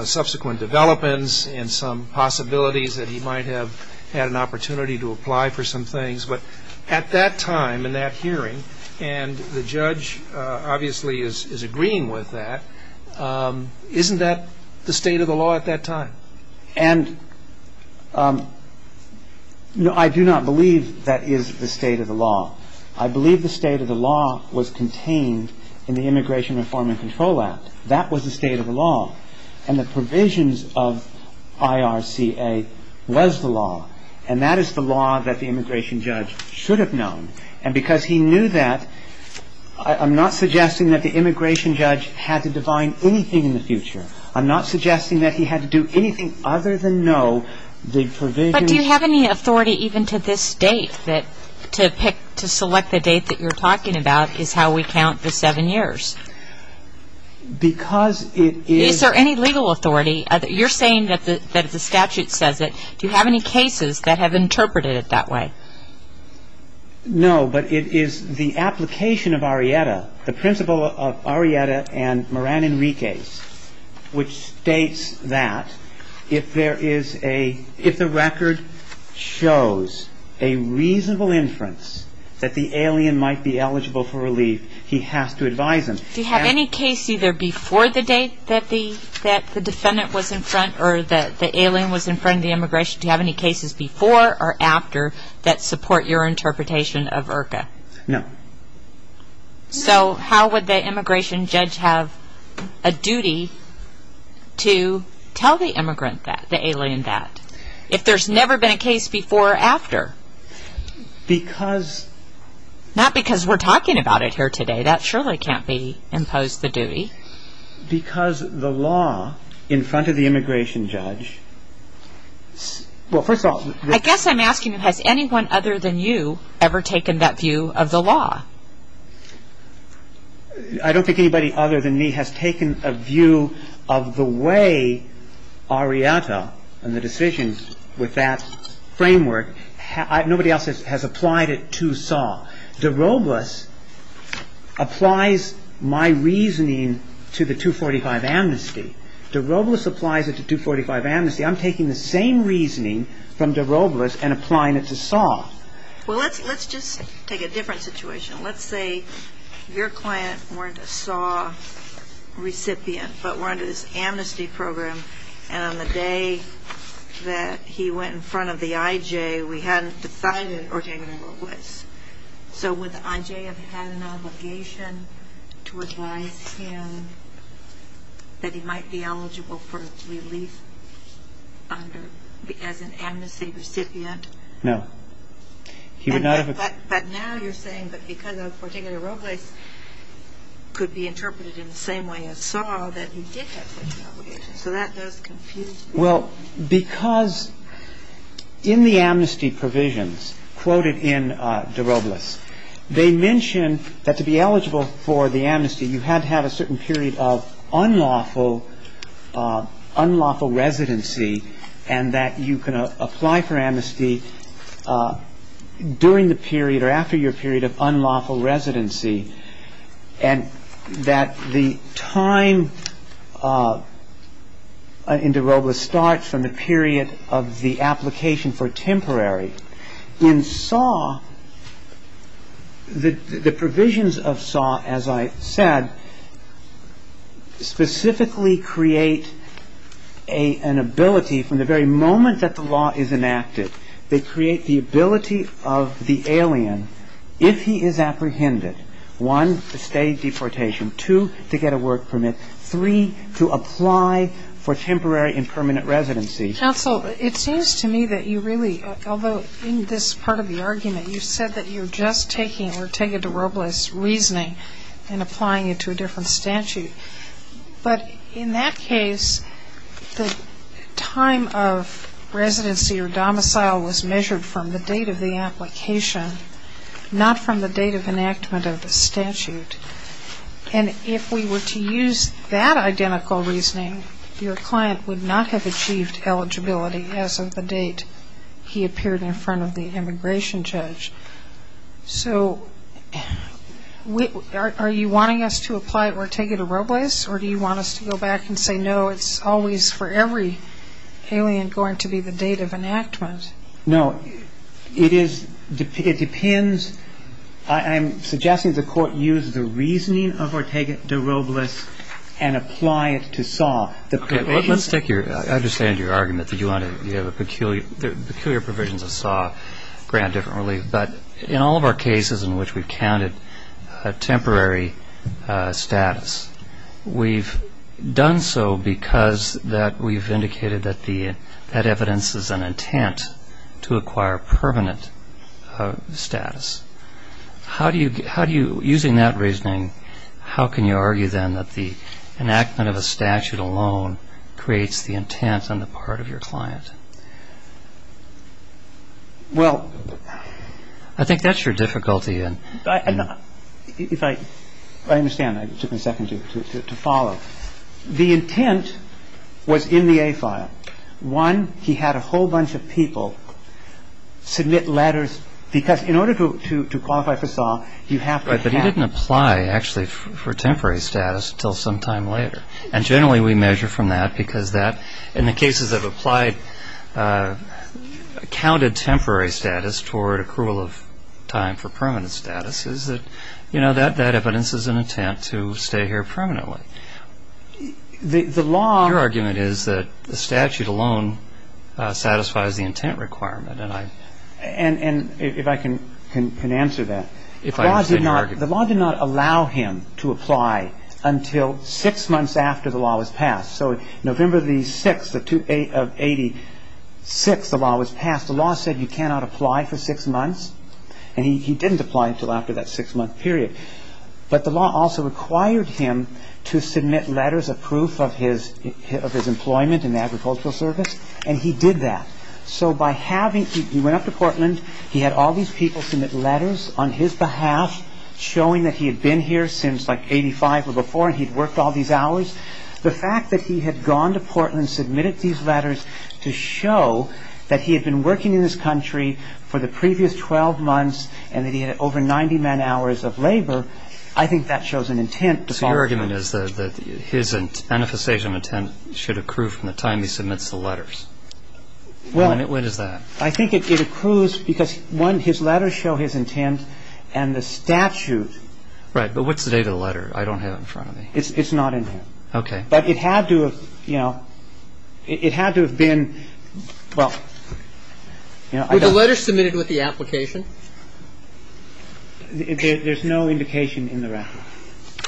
subsequent developments and some possibilities that he might have had an opportunity to apply for some things. But at that time in that hearing, and the judge obviously is agreeing with that, isn't that the state of the law at that time? And I do not believe that is the state of the law. I believe the state of the law was contained in the Immigration Reform and Control Act. That was the state of the law. And the provisions of IRCA was the law. And that is the law that the immigration judge should have known. And because he knew that, I'm not suggesting that the immigration judge had to define anything in the future. I'm not suggesting that he had to do anything other than know the provisions. But do you have any authority even to this date, that to select the date that you're talking about is how we count the seven years? Because it is... Is there any legal authority? You're saying that the statute says it. Do you have any cases that have interpreted it that way? No, but it is the application of Arrieta, the principle of Arrieta and Moran Enriquez, which states that if there is a... If the record shows a reasonable inference that the alien might be eligible for relief, he has to advise them. Do you have any case either before the date that the defendant was in front or that the alien was in front of the immigration? Do you have any cases before or after that support your interpretation of IRCA? No. So how would the immigration judge have a duty to tell the immigrant that, the alien that, if there's never been a case before or after? Because... Not because we're talking about it here today. That surely can't be imposed the duty. Because the law in front of the immigration judge... Well, first of all... I guess I'm asking, has anyone other than you ever taken that view of the law? I don't think anybody other than me has taken a view of the way Arrieta and the decisions with that framework. Nobody else has applied it to Saw. De Robles applies my reasoning to the 245 amnesty. De Robles applies it to 245 amnesty. I'm taking the same reasoning from De Robles and applying it to Saw. Well, let's just take a different situation. Let's say your client weren't a Saw recipient but were under this amnesty program and on the day that he went in front of the IJ, we hadn't decided or taken De Robles. So would the IJ have had an obligation to advise him that he might be eligible for relief as an amnesty recipient? No. But now you're saying that because of particular De Robles could be interpreted in the same way as Saw that he did have such an obligation. So that does confuse me. Well, because in the amnesty provisions quoted in De Robles, they mention that to be eligible for the amnesty, you had to have a certain period of unlawful residency and that you can apply for amnesty during the period or after your period of unlawful residency and that the time in De Robles starts from the period of the application for temporary. In Saw, the provisions of Saw, as I said, specifically create an ability from the very moment that the law is enacted. They create the ability of the alien, if he is apprehended, one, to stay deportation, two, to get a work permit, three, to apply for temporary and permanent residency. Counsel, it seems to me that you really, although in this part of the argument, you said that you're just taking or taking De Robles' reasoning and applying it to a different statute. But in that case, the time of residency or domicile was measured from the date of the application, not from the date of enactment of the statute. And if we were to use that identical reasoning, your client would not have achieved eligibility as of the date he appeared in front of the immigration judge. So are you wanting us to apply it or take it to De Robles, or do you want us to go back and say, no, it's always for every alien going to be the date of enactment? No. It depends. I'm suggesting the Court use the reasoning of Ortega De Robles and apply it to SAW. Okay. Let's take your – I understand your argument that you want to – you have a peculiar – peculiar provisions of SAW grant different relief. But in all of our cases in which we've counted temporary status, we've done so because that we've indicated that the – that evidence is an intent to acquire permanent status. How do you – how do you – using that reasoning, how can you argue then that the enactment of a statute alone creates the intent on the part of your client? Well, I think that's your difficulty. If I – I understand. I took a second to follow. The intent was in the A file. One, he had a whole bunch of people submit letters, because in order to qualify for SAW, you have to have – Right. But he didn't apply, actually, for temporary status until some time later. And generally we measure from that because that – in the cases that have applied, counted temporary status toward accrual of time for permanent status is that, you know, that evidence is an intent to stay here permanently. The law – Your argument is that the statute alone satisfies the intent requirement, and I – And if I can answer that. If I understand your argument. The law did not allow him to apply until six months after the law was passed. So November the 6th of 86, the law was passed. The law said you cannot apply for six months, and he didn't apply until after that six-month period. But the law also required him to submit letters of proof of his employment in the agricultural service, and he did that. So by having – he went up to Portland. He had all these people submit letters on his behalf, showing that he had been here since like 85 or before, and he'd worked all these hours. The fact that he had gone to Portland, submitted these letters to show that he had been working in this country for the previous 12 months, and that he had over 90-man hours of labor, I think that shows an intent to – So your argument is that his manifestation of intent should accrue from the time he submits the letters. Well – And when is that? I think it accrues because, one, his letters show his intent, and the statute – Right. But what's the date of the letter? I don't have it in front of me. It's not in here. Okay. But it had to have, you know – it had to have been – well, you know, I don't – Were the letters submitted with the application? There's no indication in the record,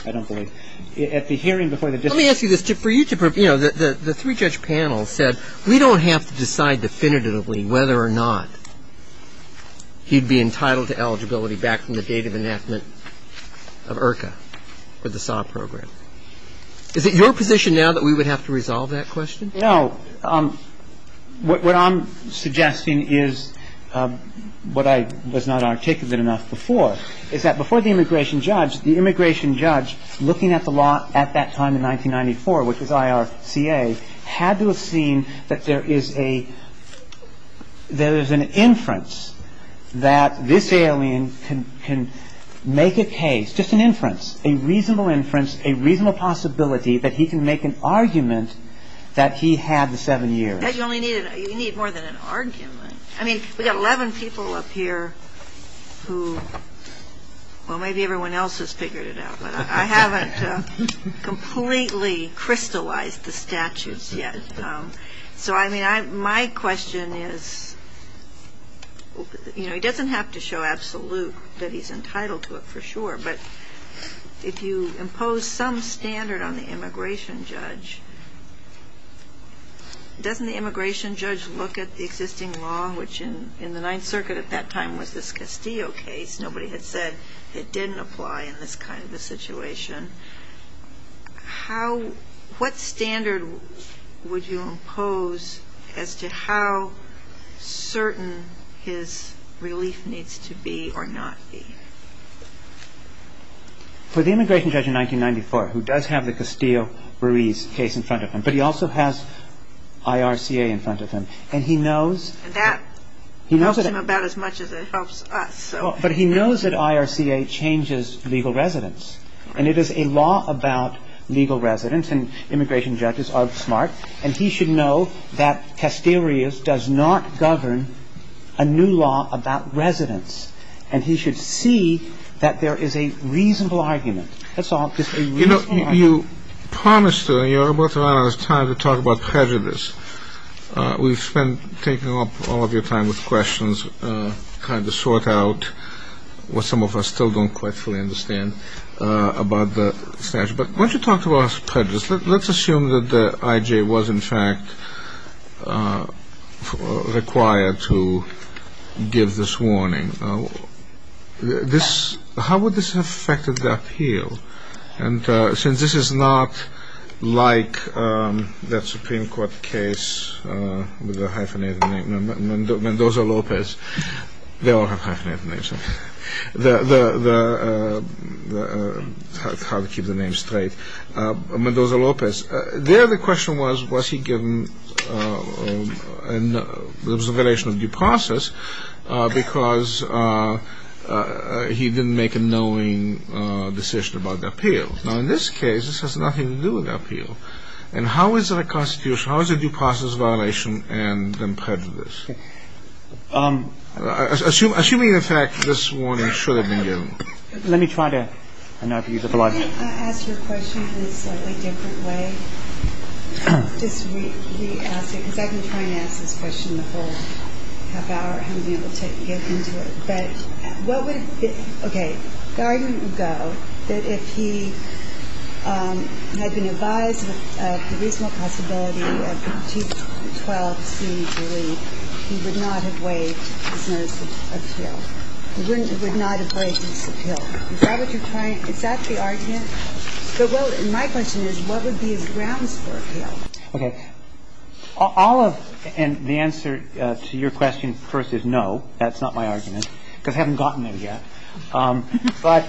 I don't believe. At the hearing before the district court – Let me ask you this. For you to – you know, the three-judge panel said, What I'm suggesting is what I was not articulate enough before, is that before the immigration judge, the immigration judge, looking at the law at that time in 1994, which was IRCA, had to have seen that there is a – there's an inference that this alien could be a threat to the United States. And that he can make a case – just an inference, a reasonable inference, a reasonable possibility that he can make an argument that he had the seven years. You only need – you need more than an argument. I mean, we've got 11 people up here who – well, maybe everyone else has figured it out. But I haven't completely crystallized the statutes yet. So, I mean, my question is – you know, he doesn't have to show absolute that he's entitled to it for sure. But if you impose some standard on the immigration judge, doesn't the immigration judge look at the existing law, which in the Ninth Circuit at that time was this Castillo case? Nobody had said it didn't apply in this kind of a situation. How – what standard would you impose as to how certain his relief needs to be or not be? For the immigration judge in 1994, who does have the Castillo-Ruiz case in front of him, but he also has IRCA in front of him. And he knows – And that helps him about as much as it helps us. But he knows that IRCA changes legal residence. And it is a law about legal residence. And immigration judges are smart. And he should know that Castillo-Ruiz does not govern a new law about residence. And he should see that there is a reasonable argument. That's all. Just a reasonable argument. You know, you promised – you're about to run out of time to talk about prejudice. We've spent taking up all of your time with questions, trying to sort out what some of us still don't quite fully understand about the statute. But why don't you talk to us prejudice? Let's assume that the IJ was, in fact, required to give this warning. And since this is not like that Supreme Court case with the hyphenated name, Mendoza-Lopez – they all have hyphenated names. The – how to keep the name straight. Mendoza-Lopez. There the question was, was he given an observation of due process because he didn't make a knowing decision about the appeal. Now, in this case, this has nothing to do with appeal. And how is it a constitution? How is it due process violation and then prejudice? Assuming, in fact, this warning should have been given. Let me try to – Can I ask you a question in a slightly different way? Just re-ask it, because I've been trying to ask this question the whole half hour. I haven't been able to get into it. But what would – okay. The argument would go that if he had been advised of the reasonable possibility of Chief 12 soon to leave, he would not have waived his notice of appeal. He wouldn't – would not have waived his appeal. Is that what you're trying – is that the argument? Well, my question is, what would be his grounds for appeal? Okay. All of – and the answer to your question first is no. That's not my argument, because I haven't gotten there yet. But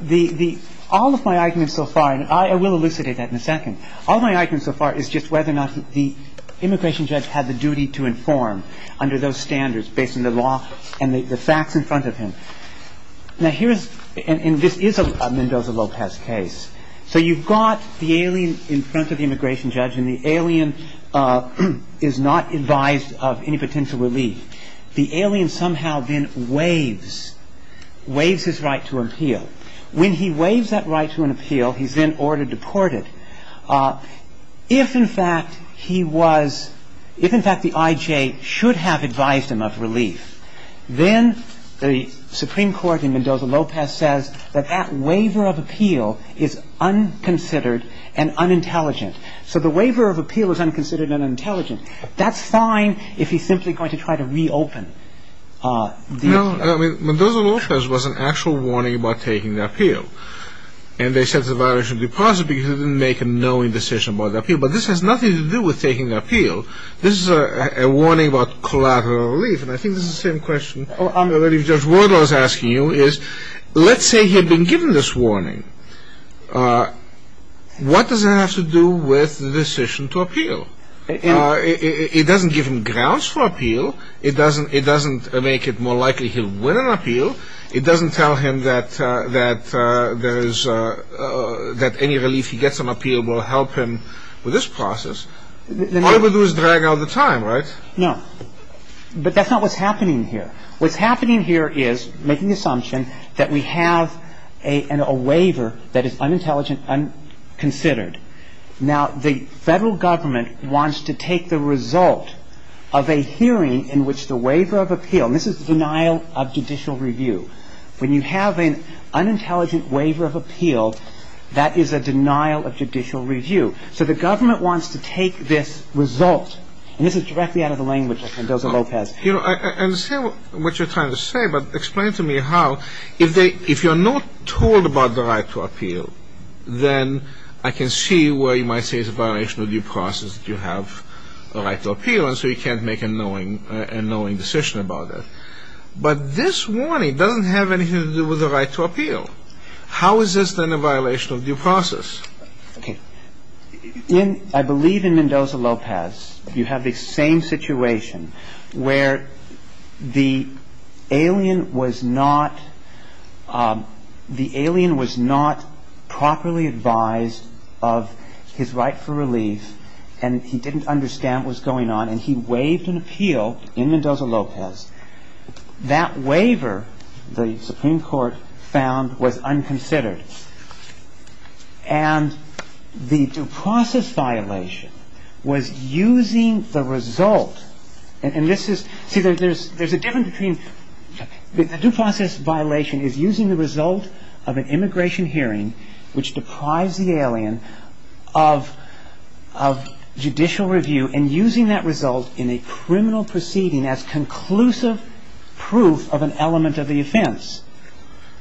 the – all of my arguments so far – and I will elucidate that in a second. All my arguments so far is just whether or not the immigration judge had the duty to inform under those standards based on the law and the facts in front of him. Now, here is – and this is a Mendoza-Lopez case. So you've got the alien in front of the immigration judge, and the alien is not advised of any potential relief. The alien somehow then waives – waives his right to appeal. When he waives that right to an appeal, he's then ordered deported. If, in fact, he was – if, in fact, the I.J. should have advised him of relief, then the Supreme Court in Mendoza-Lopez says that that waiver of appeal is unconsidered and unintelligent. So the waiver of appeal is unconsidered and unintelligent. That's fine if he's simply going to try to reopen the – No, I mean, Mendoza-Lopez was an actual warning about taking the appeal. And they said it's a violation of the deposit because they didn't make a knowing decision about the appeal. But this has nothing to do with taking the appeal. This is a warning about collateral relief. And I think this is the same question that Judge Wardle is asking you is let's say he had been given this warning. What does that have to do with the decision to appeal? It doesn't give him grounds for appeal. It doesn't make it more likely he'll win an appeal. It doesn't tell him that there is – that any relief he gets on appeal will help him with this process. All it would do is drag out the time, right? No. But that's not what's happening here. What's happening here is making the assumption that we have a waiver that is unintelligent, unconsidered. Now, the Federal Government wants to take the result of a hearing in which the waiver of appeal – and this is denial of judicial review. When you have an unintelligent waiver of appeal, that is a denial of judicial review. So the government wants to take this result. And this is directly out of the language of Mendoza-Lopez. You know, I understand what you're trying to say, but explain to me how if they – if you're not told about the right to appeal, then I can see where you might say it's a violation of due process that you have the right to appeal, and so you can't make a knowing decision about it. But this warning doesn't have anything to do with the right to appeal. How is this then a violation of due process? Okay. In – I believe in Mendoza-Lopez, you have the same situation where the alien was not – the alien was not properly advised of his right for relief, and he didn't understand what was going on, and he waived an appeal in Mendoza-Lopez. That waiver, the Supreme Court found, was unconsidered. And the due process violation was using the result – and this is – see, there's a difference between – the due process violation is using the result of an immigration hearing which deprives the alien of judicial review and using that result in a criminal proceeding as conclusive proof of an element of the offense.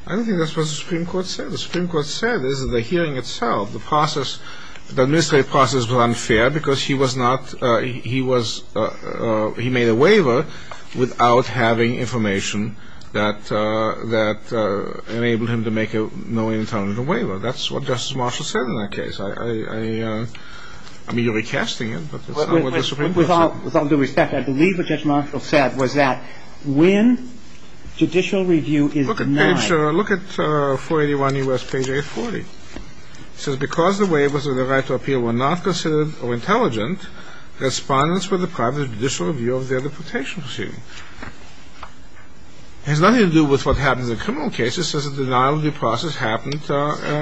I don't think that's what the Supreme Court said. The Supreme Court said this in the hearing itself. The process – the administrative process was unfair because he was not – he was – he made a waiver without having information that enabled him to make a knowing and tolerable waiver. That's what Justice Marshall said in that case. I mean, you're recasting it, but that's not what the Supreme Court said. With all due respect, I believe what Judge Marshall said was that when judicial review is denied – Look at page – look at 481 U.S. page 840. It says, because the waivers of the right to appeal were not considered or intelligent, respondents were deprived of judicial review of their deportation proceeding. It has nothing to do with what happens in criminal cases, it says the denial of due process happened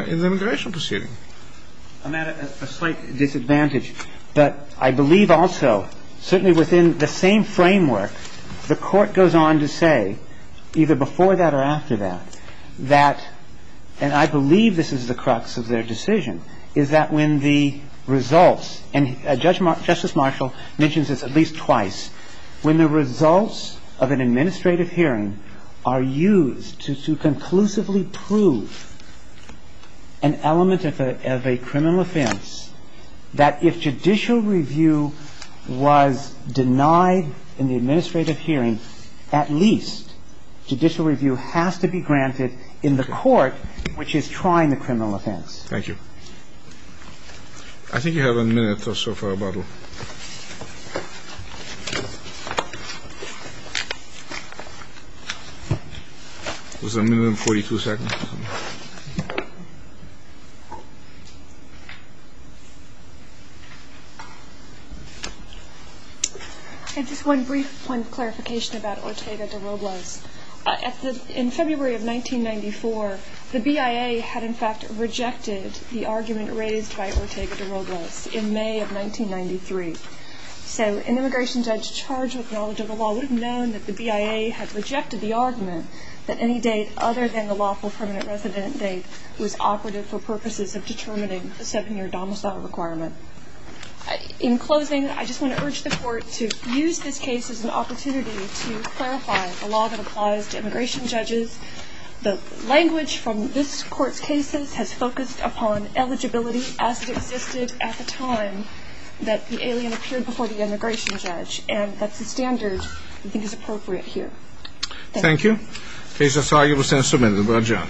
in the immigration proceeding. I'm at a slight disadvantage. But I believe also, certainly within the same framework, the Court goes on to say, either before that or after that, that – and I believe this is the crux of their decision – is that when the results – and Justice Marshall mentions this at least twice – when the results of an administrative hearing are used to conclusively prove an element of a criminal offense, that if judicial review was denied in the administrative hearing, at least judicial review has to be granted in the court which is trying the criminal offense. Thank you. I think you have a minute or so for rebuttal. It was a minimum of 42 seconds. I have just one brief point of clarification about Ortega de Robles. In February of 1994, the BIA had in fact rejected the argument raised by Ortega de Robles in May of 1993. So an immigration judge charged with knowledge of the law would have known that the BIA had rejected the argument that any date other than the lawful permanent resident date was operative for purposes of determining a seven-year domicile requirement. In closing, I just want to urge the Court to use this case as an opportunity to clarify the law that applies to immigration judges. The language from this Court's cases has focused upon eligibility as it existed at the time that the alien appeared before the immigration judge, and that's the standard I think is appropriate here. Thank you. Thank you. Case is argued with sentence submitted. We'll adjourn.